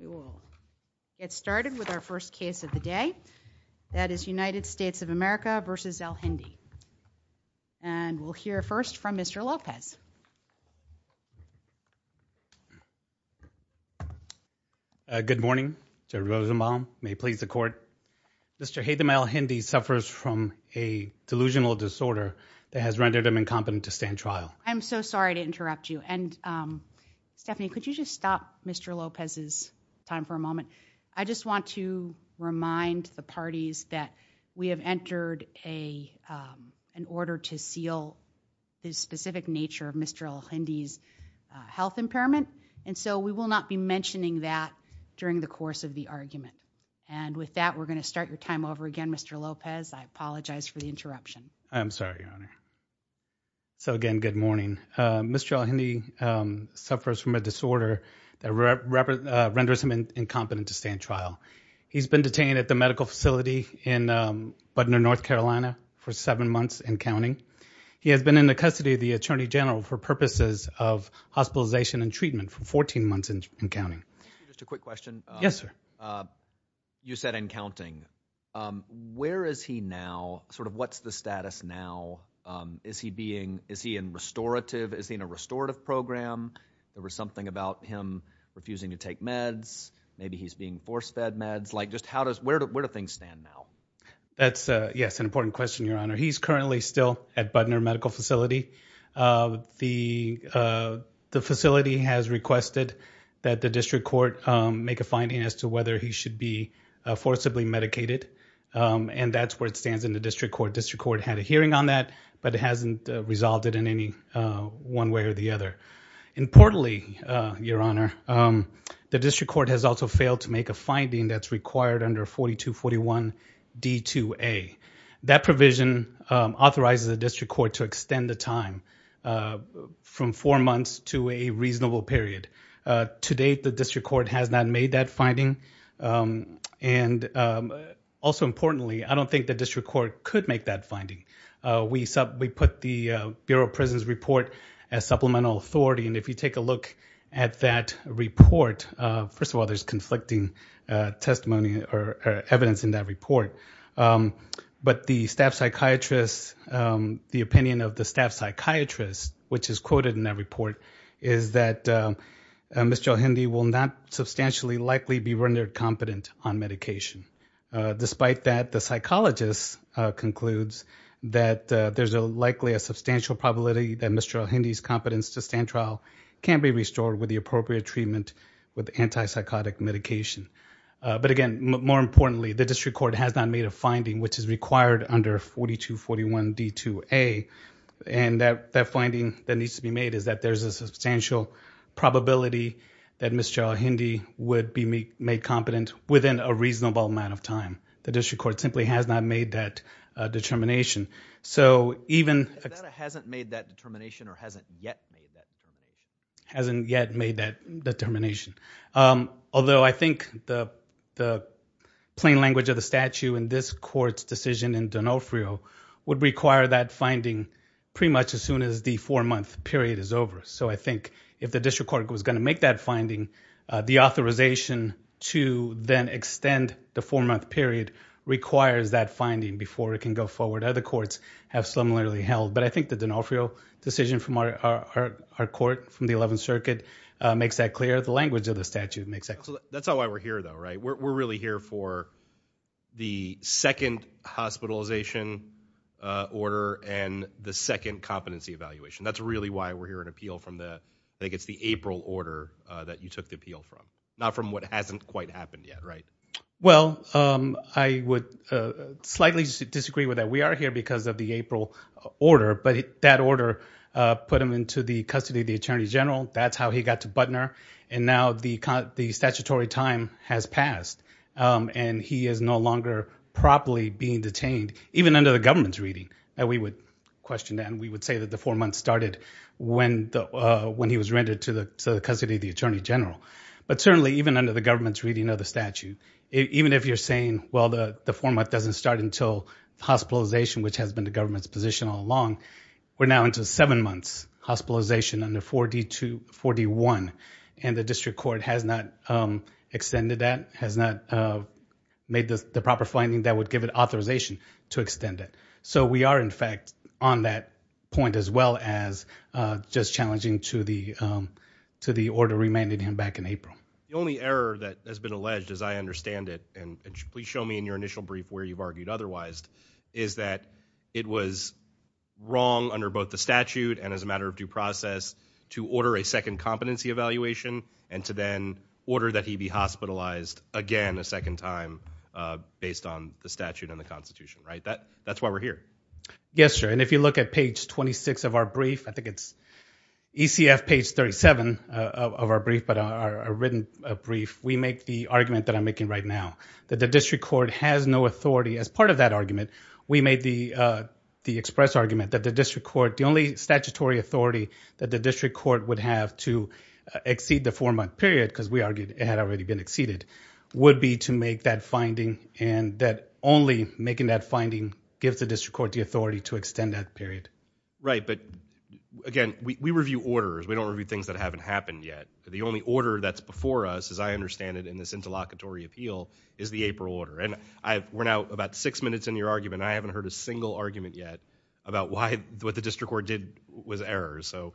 We will get started with our first case of the day. That is United States of America v. Alhindi. And we'll hear first from Mr. Lopez. Good morning. Mr. Rosenbaum, may it please the court. Mr. Haitham Alhindi suffers from a delusional disorder that has rendered him incompetent to stand trial. I'm so sorry to interrupt you and Stephanie, could you just stop Mr. Lopez's time for a moment. I just want to remind the parties that we have entered an order to seal his specific nature of Mr. Alhindi's health impairment. And so we will not be mentioning that during the course of the argument. And with that, we're going to start your time over again, Mr. Lopez. I apologize for the interruption. I'm sorry, Your Honor. So again, good morning. Mr. Alhindi suffers from a disorder that renders him incompetent to stand trial. He's been detained at the medical facility in Budner, North Carolina, for seven months and counting. He has been in the custody of the Attorney General for purposes of hospitalization and treatment for 14 months and counting. Just a quick question. Yes, sir. You said and counting. Where is he now? Sort of what's the status now? Is he being, is he in restorative, is he in a restorative program? There was something about him refusing to take meds. Maybe he's being force-fed meds. Like just how does, where do things stand now? That's a, yes, an important question, Your Honor. He's currently still at Budner Medical Facility. The facility has requested that the district court make a finding as to whether he should be forcibly medicated. And that's where it stands in the district court. District court had a hearing on that, but it hasn't resolved it in any one way or the other. Importantly, Your Honor, the district court has also failed to make a finding that's required under 4241 D2A. That provision authorizes the district court to extend the time from four months to a reasonable period. To date, the district court has not made that finding. And also importantly, I don't think the district court could make that finding. We put the Bureau of Prisons report as supplemental authority, and if you take a look at that report, first of all, there's conflicting testimony or evidence in that report. But the staff psychiatrist, the opinion of the staff psychiatrist, which is quoted in that report, is that Mr. El-Hindi will not substantially likely be rendered competent on medication. Despite that, the psychologist concludes that there's likely a substantial probability that Mr. El-Hindi's competence to stand trial can be restored with the appropriate treatment with antipsychotic medication. But again, more importantly, the district court has not made a finding which is required under 4241 D2A. And that finding that needs to be made is that there's a substantial probability that Mr. El-Hindi would be made competent within a reasonable amount of time. The district court simply has not made that determination. So even... If that hasn't made that determination or hasn't yet made that determination. Hasn't yet made that determination. Although I think the plain language of the statute in this court's decision in Donofrio would require that finding pretty much as soon as the four-month period is over. So I think if the district court was going to make that finding, the authorization to then extend the four-month period requires that finding before it can go forward. Other courts have similarly held. But I think the Donofrio decision from our court, from the 11th Circuit, makes that clear. The language of the statute makes that clear. That's not why we're here though, right? We're really here for the second hospitalization order and the second competency evaluation. That's really why we're here in appeal from the... I think it's the April order that you took the appeal from. Not from what hasn't quite happened yet, right? Well, I would slightly disagree with that. We are here because of the April order. But that order put him into the custody of the Attorney General. That's how he got to Butner. And now the statutory time has passed. And he is no longer properly being detained, even under the government's reading that we would question that. We would say that the four months started when he was rendered to the custody of the Attorney General. But certainly, even under the government's reading of the statute, even if you're saying, well, the four months doesn't start until hospitalization, which has been the government's position all along, we're now into seven months, hospitalization under 4D1. And the district court has not extended that, has not made the proper finding that would give it authorization to extend it. So we are, in fact, on that point as well as just challenging to the order remanded him back in April. The only error that has been alleged, as I understand it, and please show me in your wrong under both the statute and as a matter of due process to order a second competency evaluation and to then order that he be hospitalized again a second time based on the statute and the Constitution. Right? That's why we're here. Yes, sir. And if you look at page 26 of our brief, I think it's ECF page 37 of our brief, but our written brief, we make the argument that I'm making right now, that the district court has no authority. As part of that argument, we made the express argument that the district court, the only statutory authority that the district court would have to exceed the four-month period, because we argued it had already been exceeded, would be to make that finding and that only making that finding gives the district court the authority to extend that period. Right. But again, we review orders. We don't review things that haven't happened yet. The only order that's before us, as I understand it in this interlocutory appeal, is the April order. And we're now about six minutes into your argument, and I haven't heard a single argument yet about why what the district court did was error. So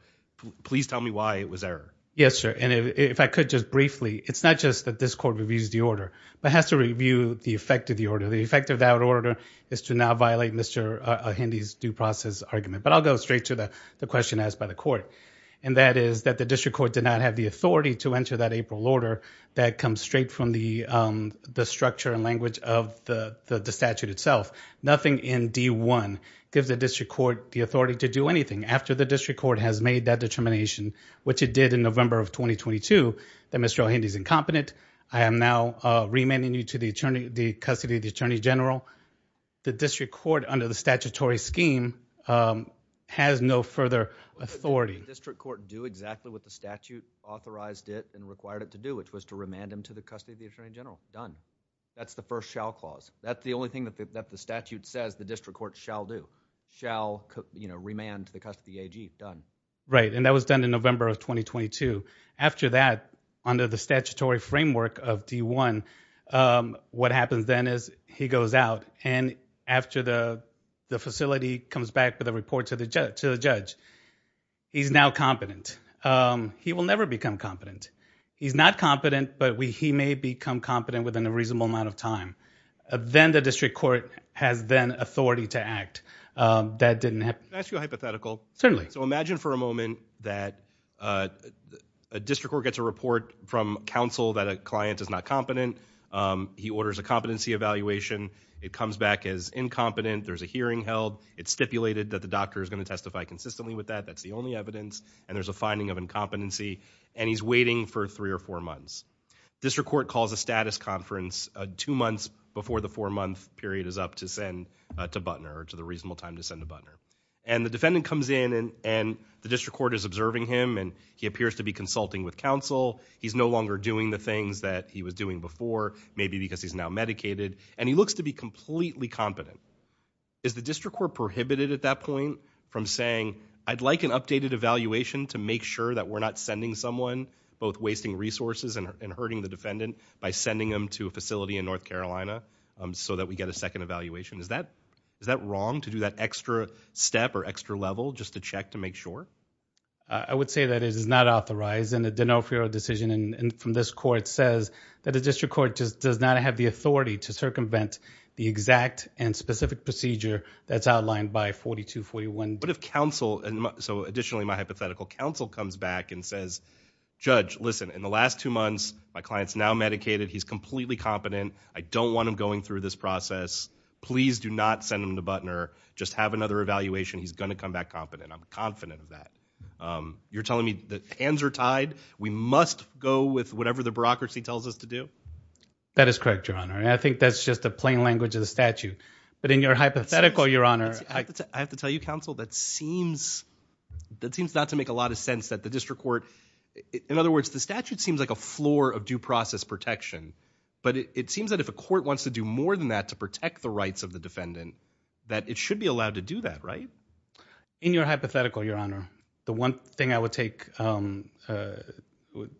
please tell me why it was error. Yes, sir. And if I could just briefly, it's not just that this court reviews the order, but has to review the effect of the order. The effect of that order is to now violate Mr. Ahindy's due process argument. But I'll go straight to the question asked by the court. And that is that the district court did not have the authority to enter that April order that comes straight from the structure and language of the statute itself. Nothing in D-1 gives the district court the authority to do anything. After the district court has made that determination, which it did in November of 2022, that Mr. Ahindy's incompetent, I am now remanding you to the custody of the attorney general. The district court, under the statutory scheme, has no further authority. The district court do exactly what the statute authorized it and required it to do, which was to remand him to the custody of the attorney general. Done. That's the first shall clause. That's the only thing that the statute says the district court shall do. Shall remand to the custody AG. Done. Right. And that was done in November of 2022. After that, under the statutory framework of D-1, what happens then is he goes out, and he's now competent. He will never become competent. He's not competent, but he may become competent within a reasonable amount of time. Then the district court has then authority to act. That didn't happen. Can I ask you a hypothetical? Certainly. So imagine for a moment that a district court gets a report from counsel that a client is not competent. He orders a competency evaluation. It comes back as incompetent. There's a hearing held. It's stipulated that the doctor is going to testify consistently with that. That's the only evidence, and there's a finding of incompetency, and he's waiting for three or four months. The district court calls a status conference two months before the four-month period is up to send to Butner, or to the reasonable time to send to Butner. And the defendant comes in, and the district court is observing him, and he appears to be consulting with counsel. He's no longer doing the things that he was doing before, maybe because he's now medicated, and he looks to be completely competent. Is the district court prohibited at that point from saying, I'd like an updated evaluation to make sure that we're not sending someone, both wasting resources and hurting the defendant, by sending them to a facility in North Carolina so that we get a second evaluation? Is that wrong, to do that extra step or extra level, just to check to make sure? I would say that it is not authorized, and the D'Onofrio decision from this court says that the district court just does not have the authority to circumvent the exact and specific procedure that's outlined by 4241. But if counsel, so additionally my hypothetical, counsel comes back and says, Judge, listen, in the last two months, my client's now medicated, he's completely competent, I don't want him going through this process, please do not send him to Butner, just have another evaluation, he's gonna come back competent, I'm confident of that. You're telling me that hands are tied, we must go with whatever the bureaucracy tells us to do? That is correct, Your Honor, and I think that's just a plain language of the statute. But in your hypothetical, Your Honor, I have to tell you, counsel, that seems, that seems not to make a lot of sense that the district court, in other words, the statute seems like a floor of due process protection. But it seems that if a court wants to do more than that to protect the rights of the defendant, that it should be allowed to do that, right? In your hypothetical, Your Honor, the one thing I would take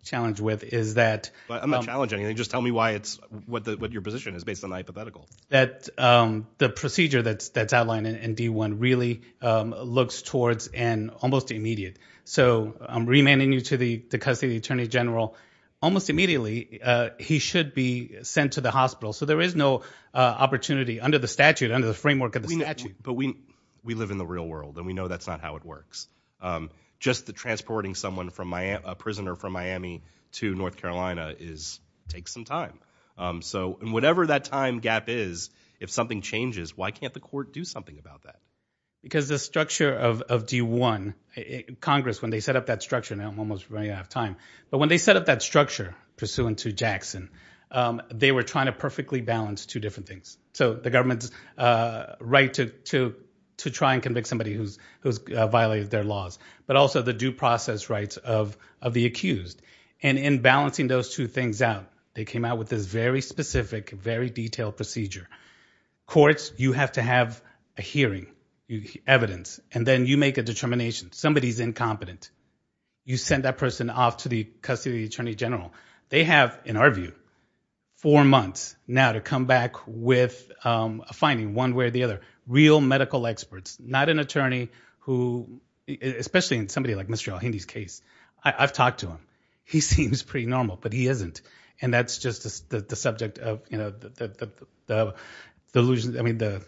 challenge with is that But I'm not challenging anything, just tell me why it's, what your position is based on the hypothetical. That the procedure that's outlined in D1 really looks towards an almost immediate. So I'm remanding you to the custody of the Attorney General, almost immediately, he should be sent to the hospital, so there is no opportunity under the statute, under the framework of the statute. But we, we live in the real world and we know that's not how it works. Just the transporting someone from Miami, a prisoner from Miami to North Carolina is, takes some time. So whatever that time gap is, if something changes, why can't the court do something about that? Because the structure of D1, Congress, when they set up that structure, now I'm almost running out of time, but when they set up that structure pursuant to Jackson, they were trying to perfectly balance two different things. So the government's right to try and convict somebody who's violated their laws, but also the due process rights of the accused. And in balancing those two things out, they came out with this very specific, very detailed procedure. Courts, you have to have a hearing, evidence, and then you make a determination. Somebody's incompetent. You send that person off to the custody of the Attorney General. They have, in our view, four months now to come back with a finding, one way or the other. Real medical experts. Not an attorney who, especially in somebody like Mr. Alhindi's case, I've talked to him. He seems pretty normal, but he isn't. And that's just the subject of, you know, the illusion, I mean, the,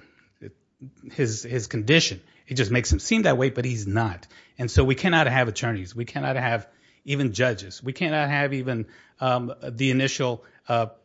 his, his condition. It just makes him seem that way, but he's not. And so we cannot have attorneys. We cannot have even judges. We cannot have even the initial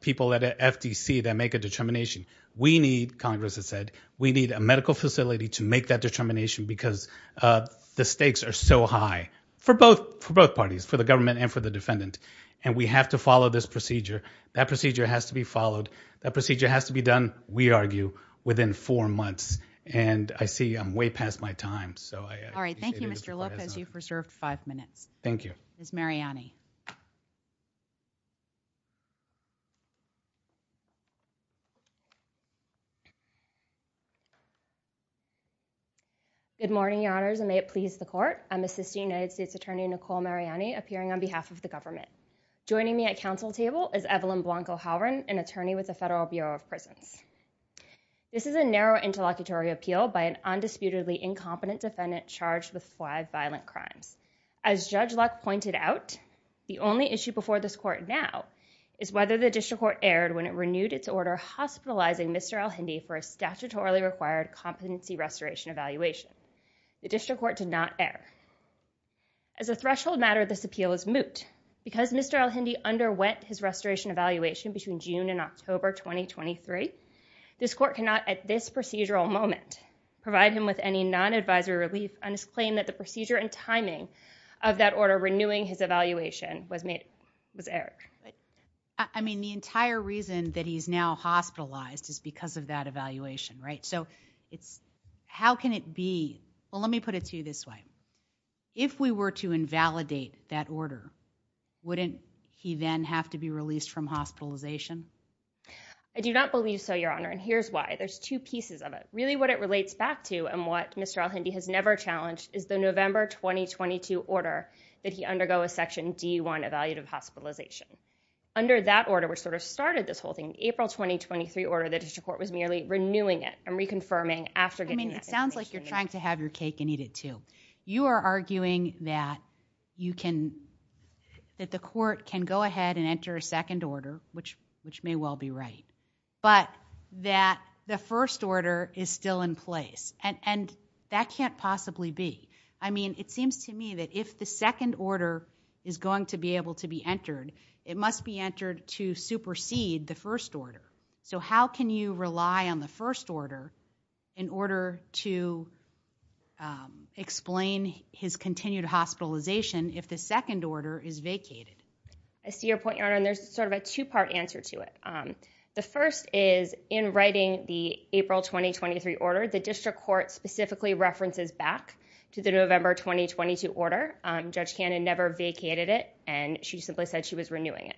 people at FTC that make a determination. We need, Congress has said, we need a medical facility to make that determination because the stakes are so high for both, for both parties, for the government and for the defendant. And we have to follow this procedure. That procedure has to be followed. That procedure has to be done, we argue, within four months. And I see I'm way past my time, so I appreciate it if you'll pass on. All right. Thank you, Mr. Lopez. You've reserved five minutes. Thank you. Ms. Mariani. Good morning, your honors, and may it please the court. I'm Assistant United States Attorney, Nicole Mariani, appearing on behalf of the government. Joining me at council table is Evelyn Blanco-Halloran, an attorney with the Federal Bureau of Prisons. This is a narrow interlocutory appeal by an undisputedly incompetent defendant charged with five violent crimes. As Judge Luck pointed out, the only issue before this court now is whether the district court erred when it renewed its order hospitalizing Mr. El-Hindi for a statutorily required competency restoration evaluation. The district court did not err. As a threshold matter, this appeal is moot. Because Mr. El-Hindi underwent his restoration evaluation between June and October 2023, this court cannot, at this procedural moment, provide him with any non-advisory relief on I mean, the entire reason that he's now hospitalized is because of that evaluation, right? So it's, how can it be, well, let me put it to you this way. If we were to invalidate that order, wouldn't he then have to be released from hospitalization? I do not believe so, your honor, and here's why. There's two pieces of it. Really what it relates back to, and what Mr. El-Hindi has never challenged, is the November 2022 order that he undergo a section D1 evaluative hospitalization. Under that order, which sort of started this whole thing, the April 2023 order, the district court was merely renewing it and reconfirming after getting that information back. I mean, it sounds like you're trying to have your cake and eat it too. You are arguing that you can, that the court can go ahead and enter a second order, which is still in place, and that can't possibly be. I mean, it seems to me that if the second order is going to be able to be entered, it must be entered to supersede the first order. So how can you rely on the first order in order to explain his continued hospitalization if the second order is vacated? I see your point, your honor, and there's sort of a two-part answer to it. The first is, in writing the April 2023 order, the district court specifically references back to the November 2022 order. Judge Cannon never vacated it, and she simply said she was renewing it.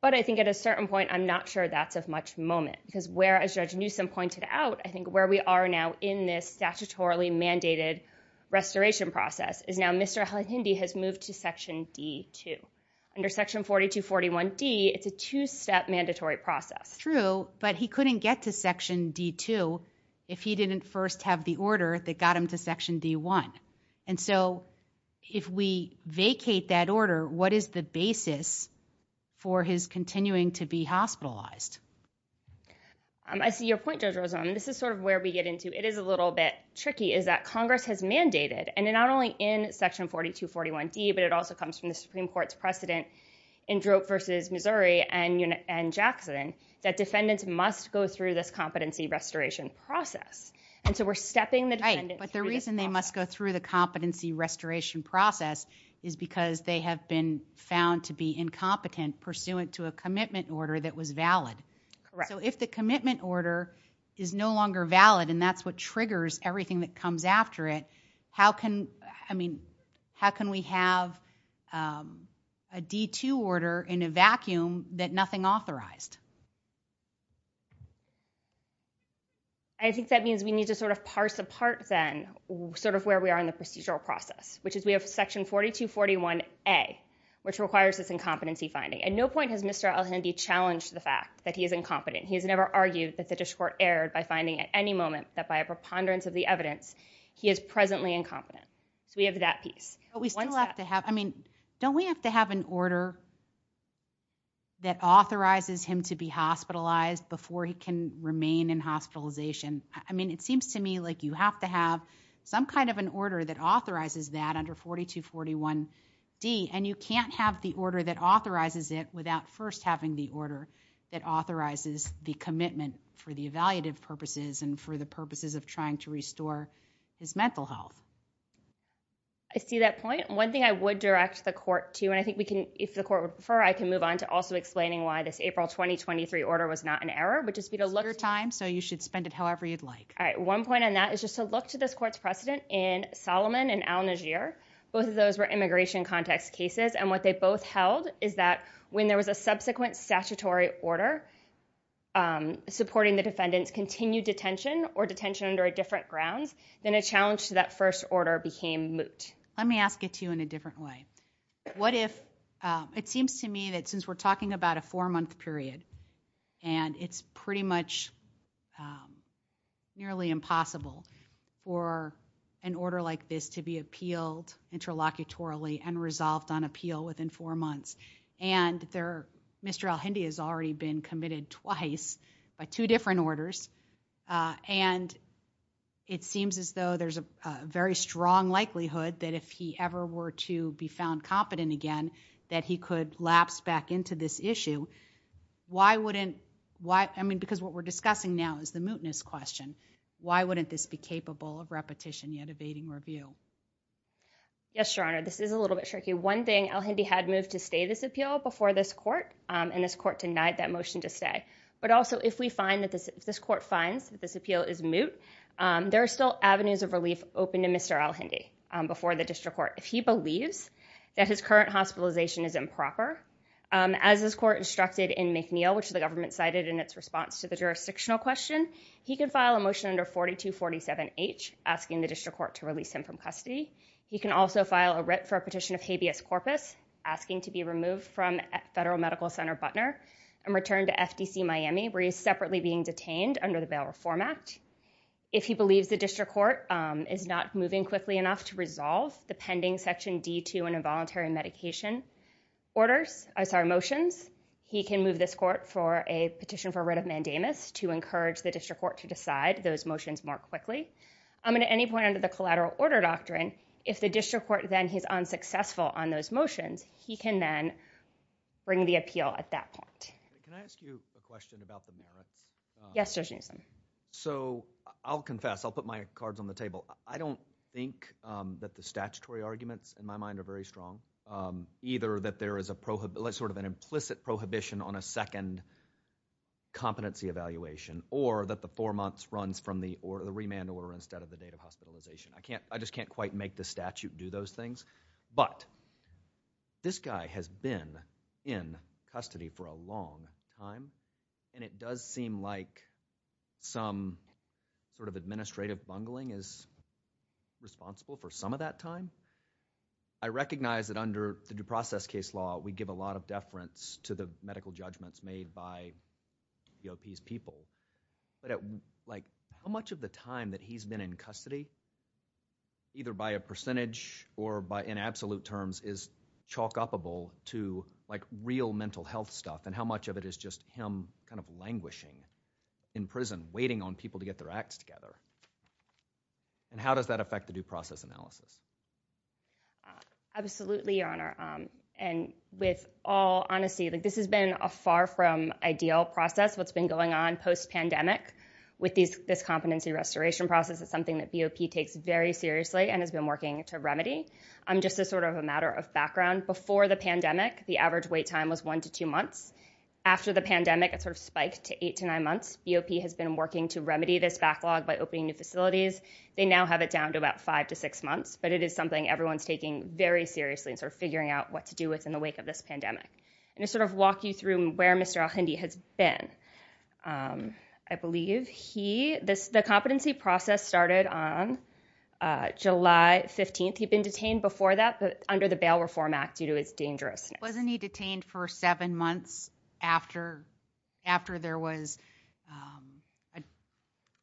But I think at a certain point, I'm not sure that's of much moment, because where, as Judge Newsom pointed out, I think where we are now in this statutorily mandated restoration process is now Mr. El-Hindi has moved to section D2. Under section 4241D, it's a two-step mandatory process. True, but he couldn't get to section D2 if he didn't first have the order that got him to section D1. And so if we vacate that order, what is the basis for his continuing to be hospitalized? I see your point, Judge Newsom, and this is sort of where we get into it is a little bit tricky, is that Congress has mandated, and then not only in section 4241D, but it also comes from the Supreme Court's precedent in Drope v. Missouri and Jackson, that defendants must go through this competency restoration process. And so we're stepping the defendant through this process. Right, but the reason they must go through the competency restoration process is because they have been found to be incompetent pursuant to a commitment order that was valid. Correct. So if the commitment order is no longer valid, and that's what triggers everything that comes after it, how can we have a D2 order in a vacuum that nothing authorized? I think that means we need to sort of parse apart then sort of where we are in the procedural process, which is we have section 4241A, which requires this incompetency finding. At no point has Mr. Elhandy challenged the fact that he is incompetent. He has never argued that the district court erred by finding at any moment that by a preponderance of the evidence he is presently incompetent. So we have that piece. But we still have to have, I mean, don't we have to have an order that authorizes him to be hospitalized before he can remain in hospitalization? I mean, it seems to me like you have to have some kind of an order that authorizes that under 4241D, and you can't have the order that authorizes it without first having the order that authorizes the commitment for the evaluative purposes and for the purposes of trying to restore his mental health. I see that point. One thing I would direct the court to, and I think we can, if the court would prefer, I can move on to also explaining why this April 2023 order was not an error, which is for you to look- It's your time, so you should spend it however you'd like. All right. One point on that is just to look to this court's precedent in Solomon and Al-Najjar. Both of those were immigration context cases, and what they both held is that when there was a subsequent statutory order supporting the defendant's continued detention or detention under a different grounds, then a challenge to that first order became moot. Let me ask it to you in a different way. What if, it seems to me that since we're talking about a four-month period, and it's pretty much nearly impossible for an order like this to be appealed interlocutorily and resolved on appeal within four months, and Mr. El-Hindi has already been committed twice by two different orders, and it seems as though there's a very strong likelihood that if he ever were to be found competent again, that he could lapse back into this issue. Why wouldn't... I mean, because what we're discussing now is the mootness question. Why wouldn't this be capable of repetition yet evading review? Yes, Your Honor. This is a little bit tricky. One thing, El-Hindi had moved to stay this appeal before this court, and this court denied that motion to stay. But also, if we find that this court finds that this appeal is moot, there are still avenues of relief open to Mr. El-Hindi before the district court. If he believes that his current hospitalization is improper, as this court instructed in McNeil, which the government cited in its response to the jurisdictional question, he can file a motion under 4247H, asking the district court to release him from custody. He can also file a writ for a petition of habeas corpus, asking to be removed from Federal Medical Center, Butner, and returned to FDC Miami, where he is separately being detained under the Bail Reform Act. If he believes the district court is not moving quickly enough to resolve the pending Section D2 on involuntary medication orders... I'm sorry, motions, he can move this court for a petition for writ of mandamus to encourage the district court to decide those motions more quickly. I mean, at any point under the collateral order doctrine, if the district court then on those motions, he can then bring the appeal at that point. Can I ask you a question about the merits? Yes, Judge Newsom. So, I'll confess. I'll put my cards on the table. I don't think that the statutory arguments, in my mind, are very strong, either that there is sort of an implicit prohibition on a second competency evaluation, or that the four months runs from the remand order instead of the date of hospitalization. I just can't quite make the statute do those things, but this guy has been in custody for a long time, and it does seem like some sort of administrative bungling is responsible for some of that time. I recognize that under the due process case law, we give a lot of deference to the medical by a percentage or in absolute terms is chalk up-able to real mental health stuff, and how much of it is just him kind of languishing in prison, waiting on people to get their acts together, and how does that affect the due process analysis? Absolutely, Your Honor, and with all honesty, this has been a far from ideal process, what's been going on post-pandemic. With this competency restoration process, it's something that BOP takes very seriously and has been working to remedy. Just as sort of a matter of background, before the pandemic, the average wait time was one to two months. After the pandemic, it sort of spiked to eight to nine months. BOP has been working to remedy this backlog by opening new facilities. They now have it down to about five to six months, but it is something everyone's taking very seriously and sort of figuring out what to do within the wake of this pandemic. I'm going to sort of walk you through where Mr. Alhindi has been. I believe he... The competency process started on July 15th. He'd been detained before that, but under the Bail Reform Act due to its dangerousness. Wasn't he detained for seven months after there was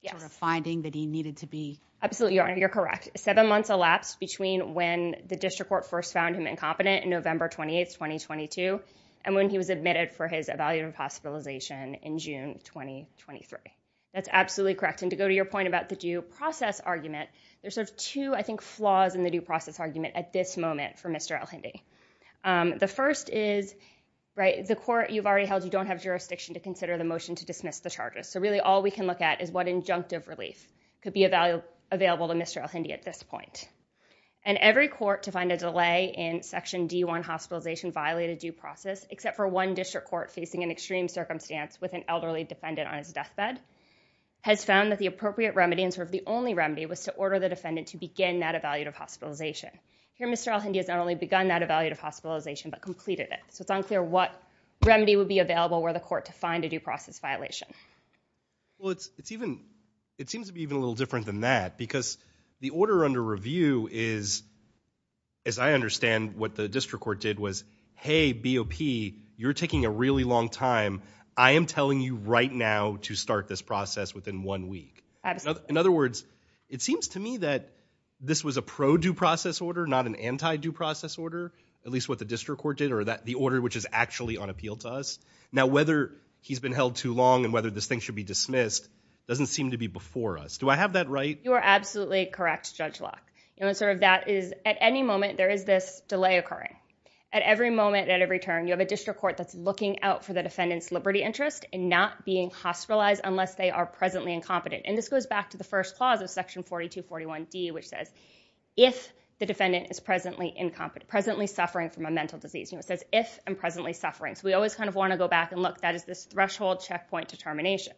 a sort of finding that he needed to be... Absolutely, Your Honor, you're correct. Seven months elapsed between when the district court first found him incompetent in November 28th, 2022, and when he was admitted for his evaluative hospitalization in June 2023. That's absolutely correct. To go to your point about the due process argument, there's sort of two, I think, flaws in the due process argument at this moment for Mr. Alhindi. The first is the court you've already held, you don't have jurisdiction to consider the motion to dismiss the charges, so really all we can look at is what injunctive relief could be available to Mr. Alhindi at this point. Every court to find a delay in Section D1 hospitalization violated due process, except for one district court facing an extreme circumstance with an elderly defendant on his deathbed, has found that the appropriate remedy, and sort of the only remedy, was to order the defendant to begin that evaluative hospitalization. Here, Mr. Alhindi has not only begun that evaluative hospitalization, but completed it. It's unclear what remedy would be available were the court to find a due process violation. Well, it seems to be even a little different than that, because the order under review is, as I understand what the district court did was, hey, BOP, you're taking a really long time. I am telling you right now to start this process within one week. In other words, it seems to me that this was a pro-due process order, not an anti-due process order, at least what the district court did, or the order which is actually on appeal to us. Now, whether he's been held too long and whether this thing should be dismissed doesn't seem to be before us. Do I have that right? You are absolutely correct, Judge Locke. At any moment, there is this delay occurring. At every moment, at every turn, you have a district court that's looking out for the defendant's liberty interest in not being hospitalized unless they are presently incompetent. This goes back to the first clause of section 4241D, which says, if the defendant is presently suffering from a mental disease. It says, if and presently suffering. We always kind of want to go back and look, that is this threshold checkpoint determination.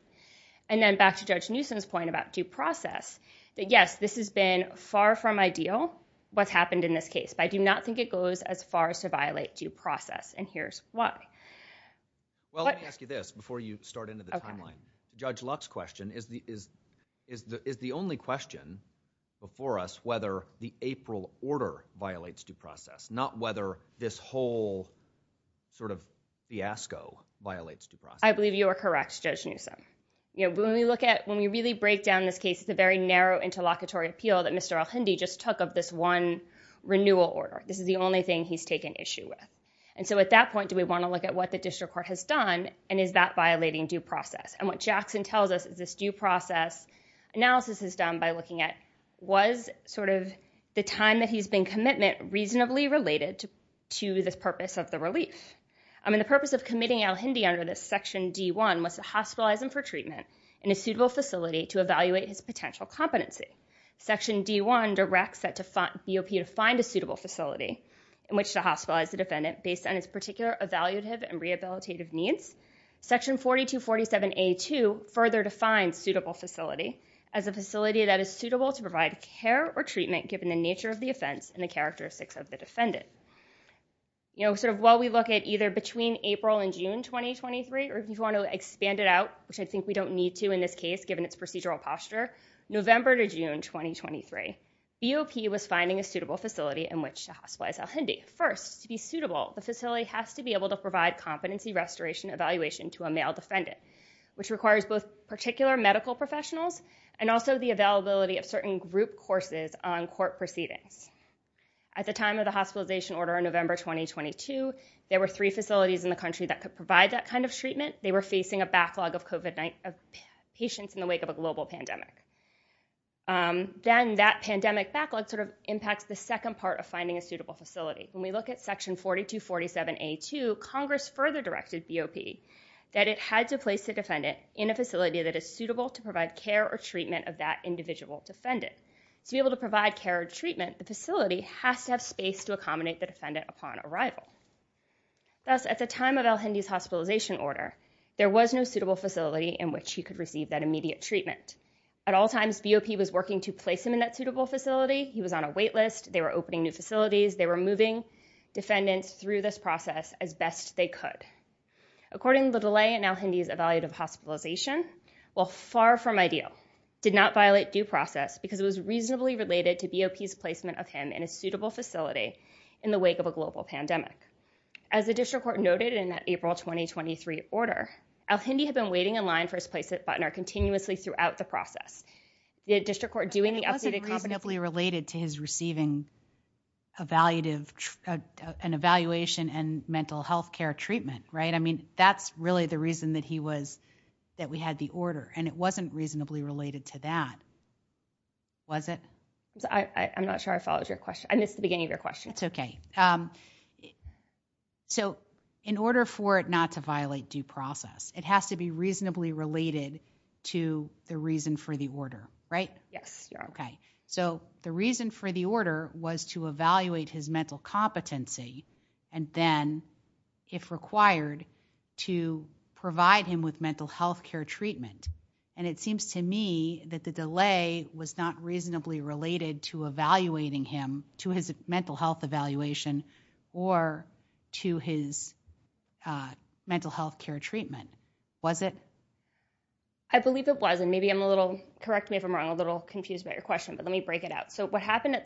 And then back to Judge Newsom's point about due process, that yes, this has been far from ideal what's happened in this case, but I do not think it goes as far as to violate due process, and here's why. Well, let me ask you this before you start into the timeline. Judge Locke's question is the only question before us whether the April order violates due process, not whether this whole sort of fiasco violates due process. I believe you are correct, Judge Newsom. You know, when we look at, when we really break down this case, it's a very narrow interlocutory appeal that Mr. El-Hindi just took of this one renewal order. This is the only thing he's taken issue with. And so at that point, do we want to look at what the district court has done, and is that violating due process? And what Jackson tells us is this due process analysis is done by looking at, was sort of the time that he's been commitment reasonably related to the purpose of the relief. I mean, the purpose of committing El-Hindi under this section D1 was to hospitalize him for treatment in a suitable facility to evaluate his potential competency. Section D1 directs that BOP to find a suitable facility in which to hospitalize the defendant based on his particular evaluative and rehabilitative needs. Section 4247A2 further defines suitable facility as a facility that is suitable to provide care or treatment given the nature of the offense and the characteristics of the defendant. You know, sort of while we look at either between April and June 2023, or if you want to expand it out, which I think we don't need to in this case given its procedural posture, November to June 2023, BOP was finding a suitable facility in which to hospitalize El-Hindi. First, to be suitable, the facility has to be able to provide competency restoration evaluation to a male defendant, which requires both particular medical professionals and also the availability of certain group courses on court proceedings. At the time of the hospitalization order in November 2022, there were three facilities in the country that could provide that kind of treatment. They were facing a backlog of COVID-19 patients in the wake of a global pandemic. Then that pandemic backlog sort of impacts the second part of finding a suitable facility. When we look at section 4247A2, Congress further directed BOP that it had to place the defendant in a facility that is suitable to provide care or treatment of that individual defendant. To be able to provide care or treatment, the facility has to have space to accommodate the defendant upon arrival. Thus, at the time of El-Hindi's hospitalization order, there was no suitable facility in which he could receive that immediate treatment. At all times, BOP was working to place him in that suitable facility. He was on a wait list. They were opening new facilities. They were moving defendants through this process as best they could. According to the delay in El-Hindi's evaluative hospitalization, while far from ideal, did not violate due process because it was reasonably related to BOP's placement of him in a suitable facility in the wake of a global pandemic. As the district court noted in that April 2023 order, El-Hindi had been waiting in line for his place at Butner continuously throughout the process. The district court doing the updated competency… It was reasonably related to his receiving an evaluation and mental health care treatment, right? I mean, that's really the reason that we had the order, and it wasn't reasonably related to that. Was it? I'm not sure I followed your question. I missed the beginning of your question. It's okay. So, in order for it not to violate due process, it has to be reasonably related to the reason for the order, right? Yes. Okay. So, the reason for the order was to evaluate his mental competency, and then, if required, to provide him with mental health care treatment. And it seems to me that the delay was not reasonably related to evaluating him to his mental health evaluation or to his mental health care treatment. Was it? I believe it was. And maybe I'm a little… Correct me if I'm wrong. I'm a little confused about your question. But let me break it out. So, what happened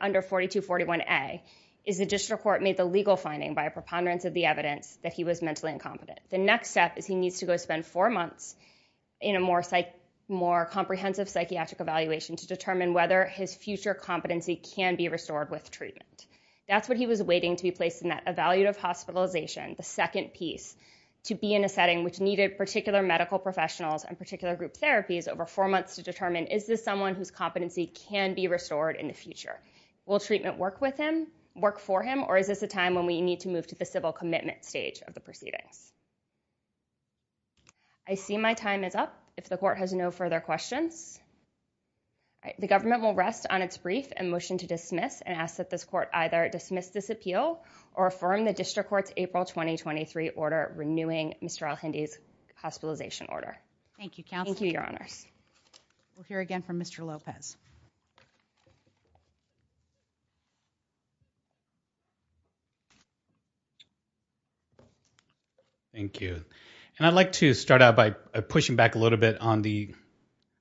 under 4241A is the district court made the legal finding by a preponderance of the evidence that he was mentally incompetent. The next step is he needs to go spend four months in a more comprehensive psychiatric evaluation to determine whether his future competency can be restored with treatment. That's what he was waiting to be placed in that evaluative hospitalization, the second piece, to be in a setting which needed particular medical professionals and particular group therapies over four months to determine, is this someone whose competency can be restored in the future? Will treatment work with him, work for him, or is this a time when we need to move to the civil commitment stage of the proceedings? I see my time is up. If the court has no further questions, the government will rest on its brief and motion to dismiss and ask that this court either dismiss this appeal or affirm the district court's April 2023 order renewing Mr. Elhindy's hospitalization order. Thank you, counsel. Thank you, your honors. We'll hear again from Mr. Lopez. Thank you. I'd like to start out by pushing back a little bit on the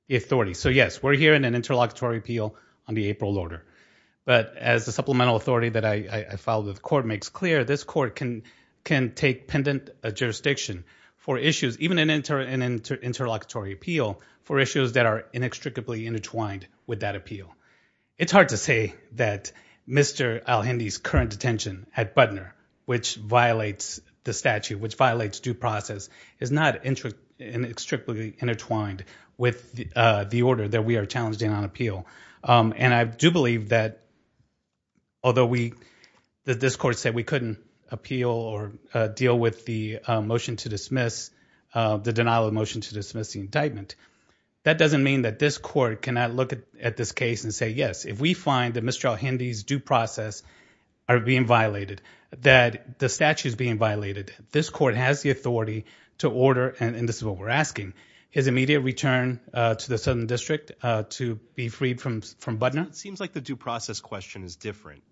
authority. So yes, we're hearing an interlocutory appeal on the April order. But as the supplemental authority that I filed with the court makes clear, this court can take pendant jurisdiction for issues, even an interlocutory appeal, for issues that are inextricably intertwined with that appeal. It's hard to say that Mr. Elhindy's current detention at Butner, which violates the statute, which violates due process, is not inextricably intertwined with the order that we are challenging on appeal. And I do believe that although we, that this court said we couldn't appeal or deal with the motion to dismiss, the denial of motion to dismiss the indictment, that doesn't mean that this court cannot look at this case and say, yes, if we find that Mr. Elhindy's due process are being violated, that the statute is being violated, this court has the authority to order, and this is what we're asking, his immediate return to the Southern District to be freed from Butner. It seems like the due process question is different.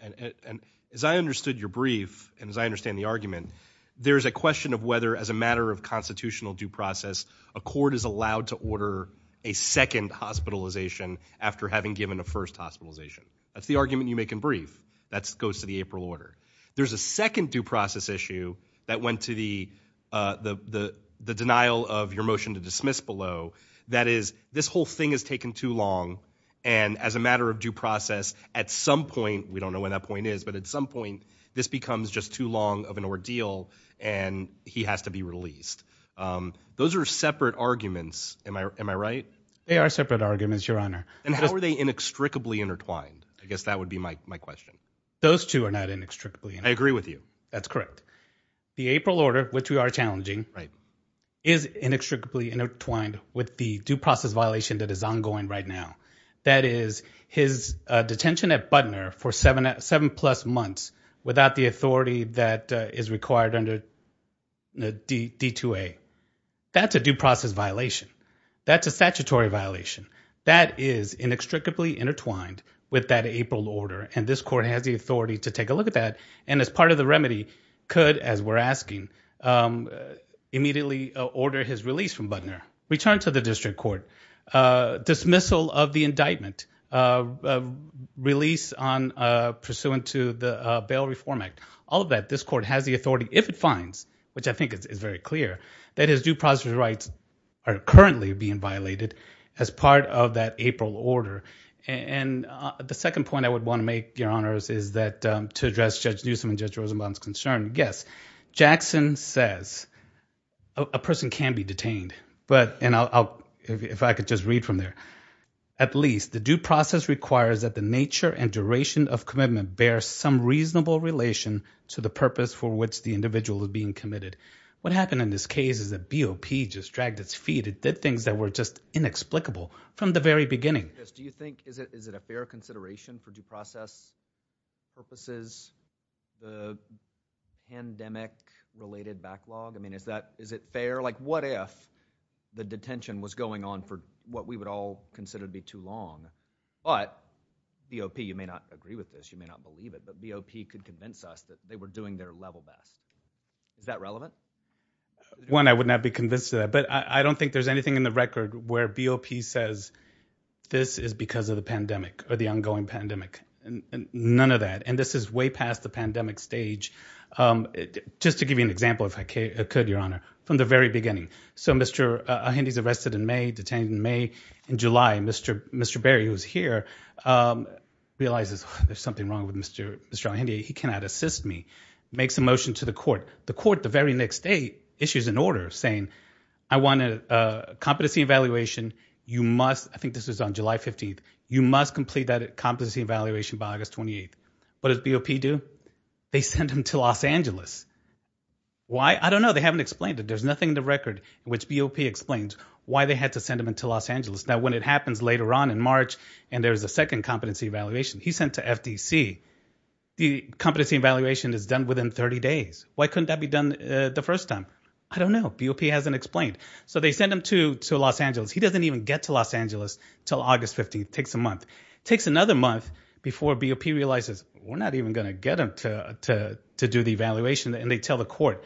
And as I understood your brief, and as I understand the argument, there's a question of whether as a matter of constitutional due process, a court is allowed to order a second hospitalization after having given a first hospitalization. That's the argument you make in brief. That goes to the April order. There's a second due process issue that went to the denial of your motion to dismiss below. That is, this whole thing has taken too long, and as a matter of due process, at some point, we don't know when that point is, but at some point, this becomes just too long of an ordeal, and he has to be released. Those are separate arguments, am I right? They are separate arguments, your honor. And how are they inextricably intertwined? I guess that would be my question. Those two are not inextricably intertwined. I agree with you. That's correct. The April order, which we are challenging, is inextricably intertwined with the due process violation that is ongoing right now. That is, his detention at Butner for seven plus months without the authority that is required under D-2A. That's a due process violation. That's a statutory violation. That is inextricably intertwined with that April order, and this court has the authority to take a look at that, and as part of the remedy, could, as we're asking, immediately order his release from Butner, return to the district court, dismissal of the indictment, release pursuant to the Bail Reform Act. All of that, this court has the authority, if it finds, which I think is very clear, that his due process rights are currently being violated as part of that April order. The second point I would want to make, Your Honors, is that to address Judge Newsom and Judge Rosenbaum's concern, yes, Jackson says a person can be detained, and if I could just read from there, at least the due process requires that the nature and duration of commitment bear some reasonable relation to the purpose for which the individual is being committed. What happened in this case is that BOP just dragged its feet and did things that were just inexplicable from the very beginning. Do you think, is it a fair consideration for due process purposes, the pandemic-related backlog? I mean, is it fair? Like, what if the detention was going on for what we would all consider to be too long, but BOP, you may not agree with this, you may not believe it, but BOP could convince us that they were doing their level best. Is that relevant? One, I would not be convinced of that, but I don't think there's anything in the record where BOP says this is because of the pandemic or the ongoing pandemic, none of that, and this is way past the pandemic stage. Just to give you an example, if I could, Your Honor, from the very beginning. So Mr. Ahindi's arrested in May, detained in May, in July, and Mr. Berry, who's here, realizes there's something wrong with Mr. Ahindi, he cannot assist me, makes a motion to the court. The court, the very next day, issues an order saying, I want a competency evaluation, you must, I think this was on July 15th, you must complete that competency evaluation by August 28th. What does BOP do? They send him to Los Angeles. Why? I don't know. They haven't explained it. There's nothing in the record in which BOP explains why they had to send him into Los Angeles. Now, when it happens later on in March, and there's a second competency evaluation, he's sent to FTC. The competency evaluation is done within 30 days. Why couldn't that be done the first time? I don't know. BOP hasn't explained. So they send him to Los Angeles. He doesn't even get to Los Angeles until August 15th. It takes a month. It takes another month before BOP realizes, we're not even going to get him to do the evaluation, and they tell the court.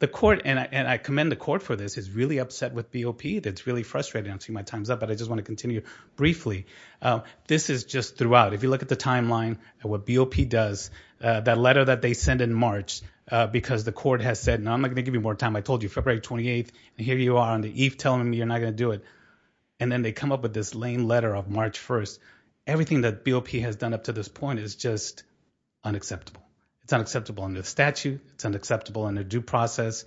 The court, and I commend the court for this, is really upset with BOP. It's really frustrating. I'm seeing my time's up, but I just want to continue briefly. This is just throughout. If you look at the timeline of what BOP does, that letter that they send in March, because the court has said, no, I'm not going to give you more time. I told you February 28th, and here you are on the eve telling me you're not going to do it. And then they come up with this lame letter of March 1st. Everything that BOP has done up to this point is just unacceptable. It's unacceptable under the statute. It's unacceptable under due process.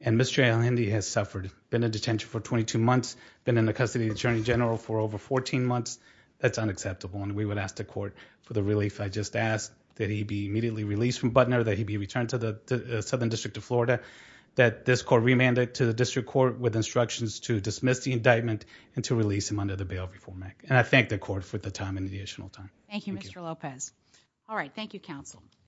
And Mr. El-Hindi has suffered, been in detention for 22 months, been in the custody of the attorney general for over 14 months. That's unacceptable. And we would ask the court for the relief I just asked, that he be immediately released from Butner, that he be returned to the Southern District of Florida, that this court remanded to the district court with instructions to dismiss the indictment and to release him under the bail reform act. And I thank the court for the time and the additional time. Thank you. Thank you, Mr. Lopez. All right.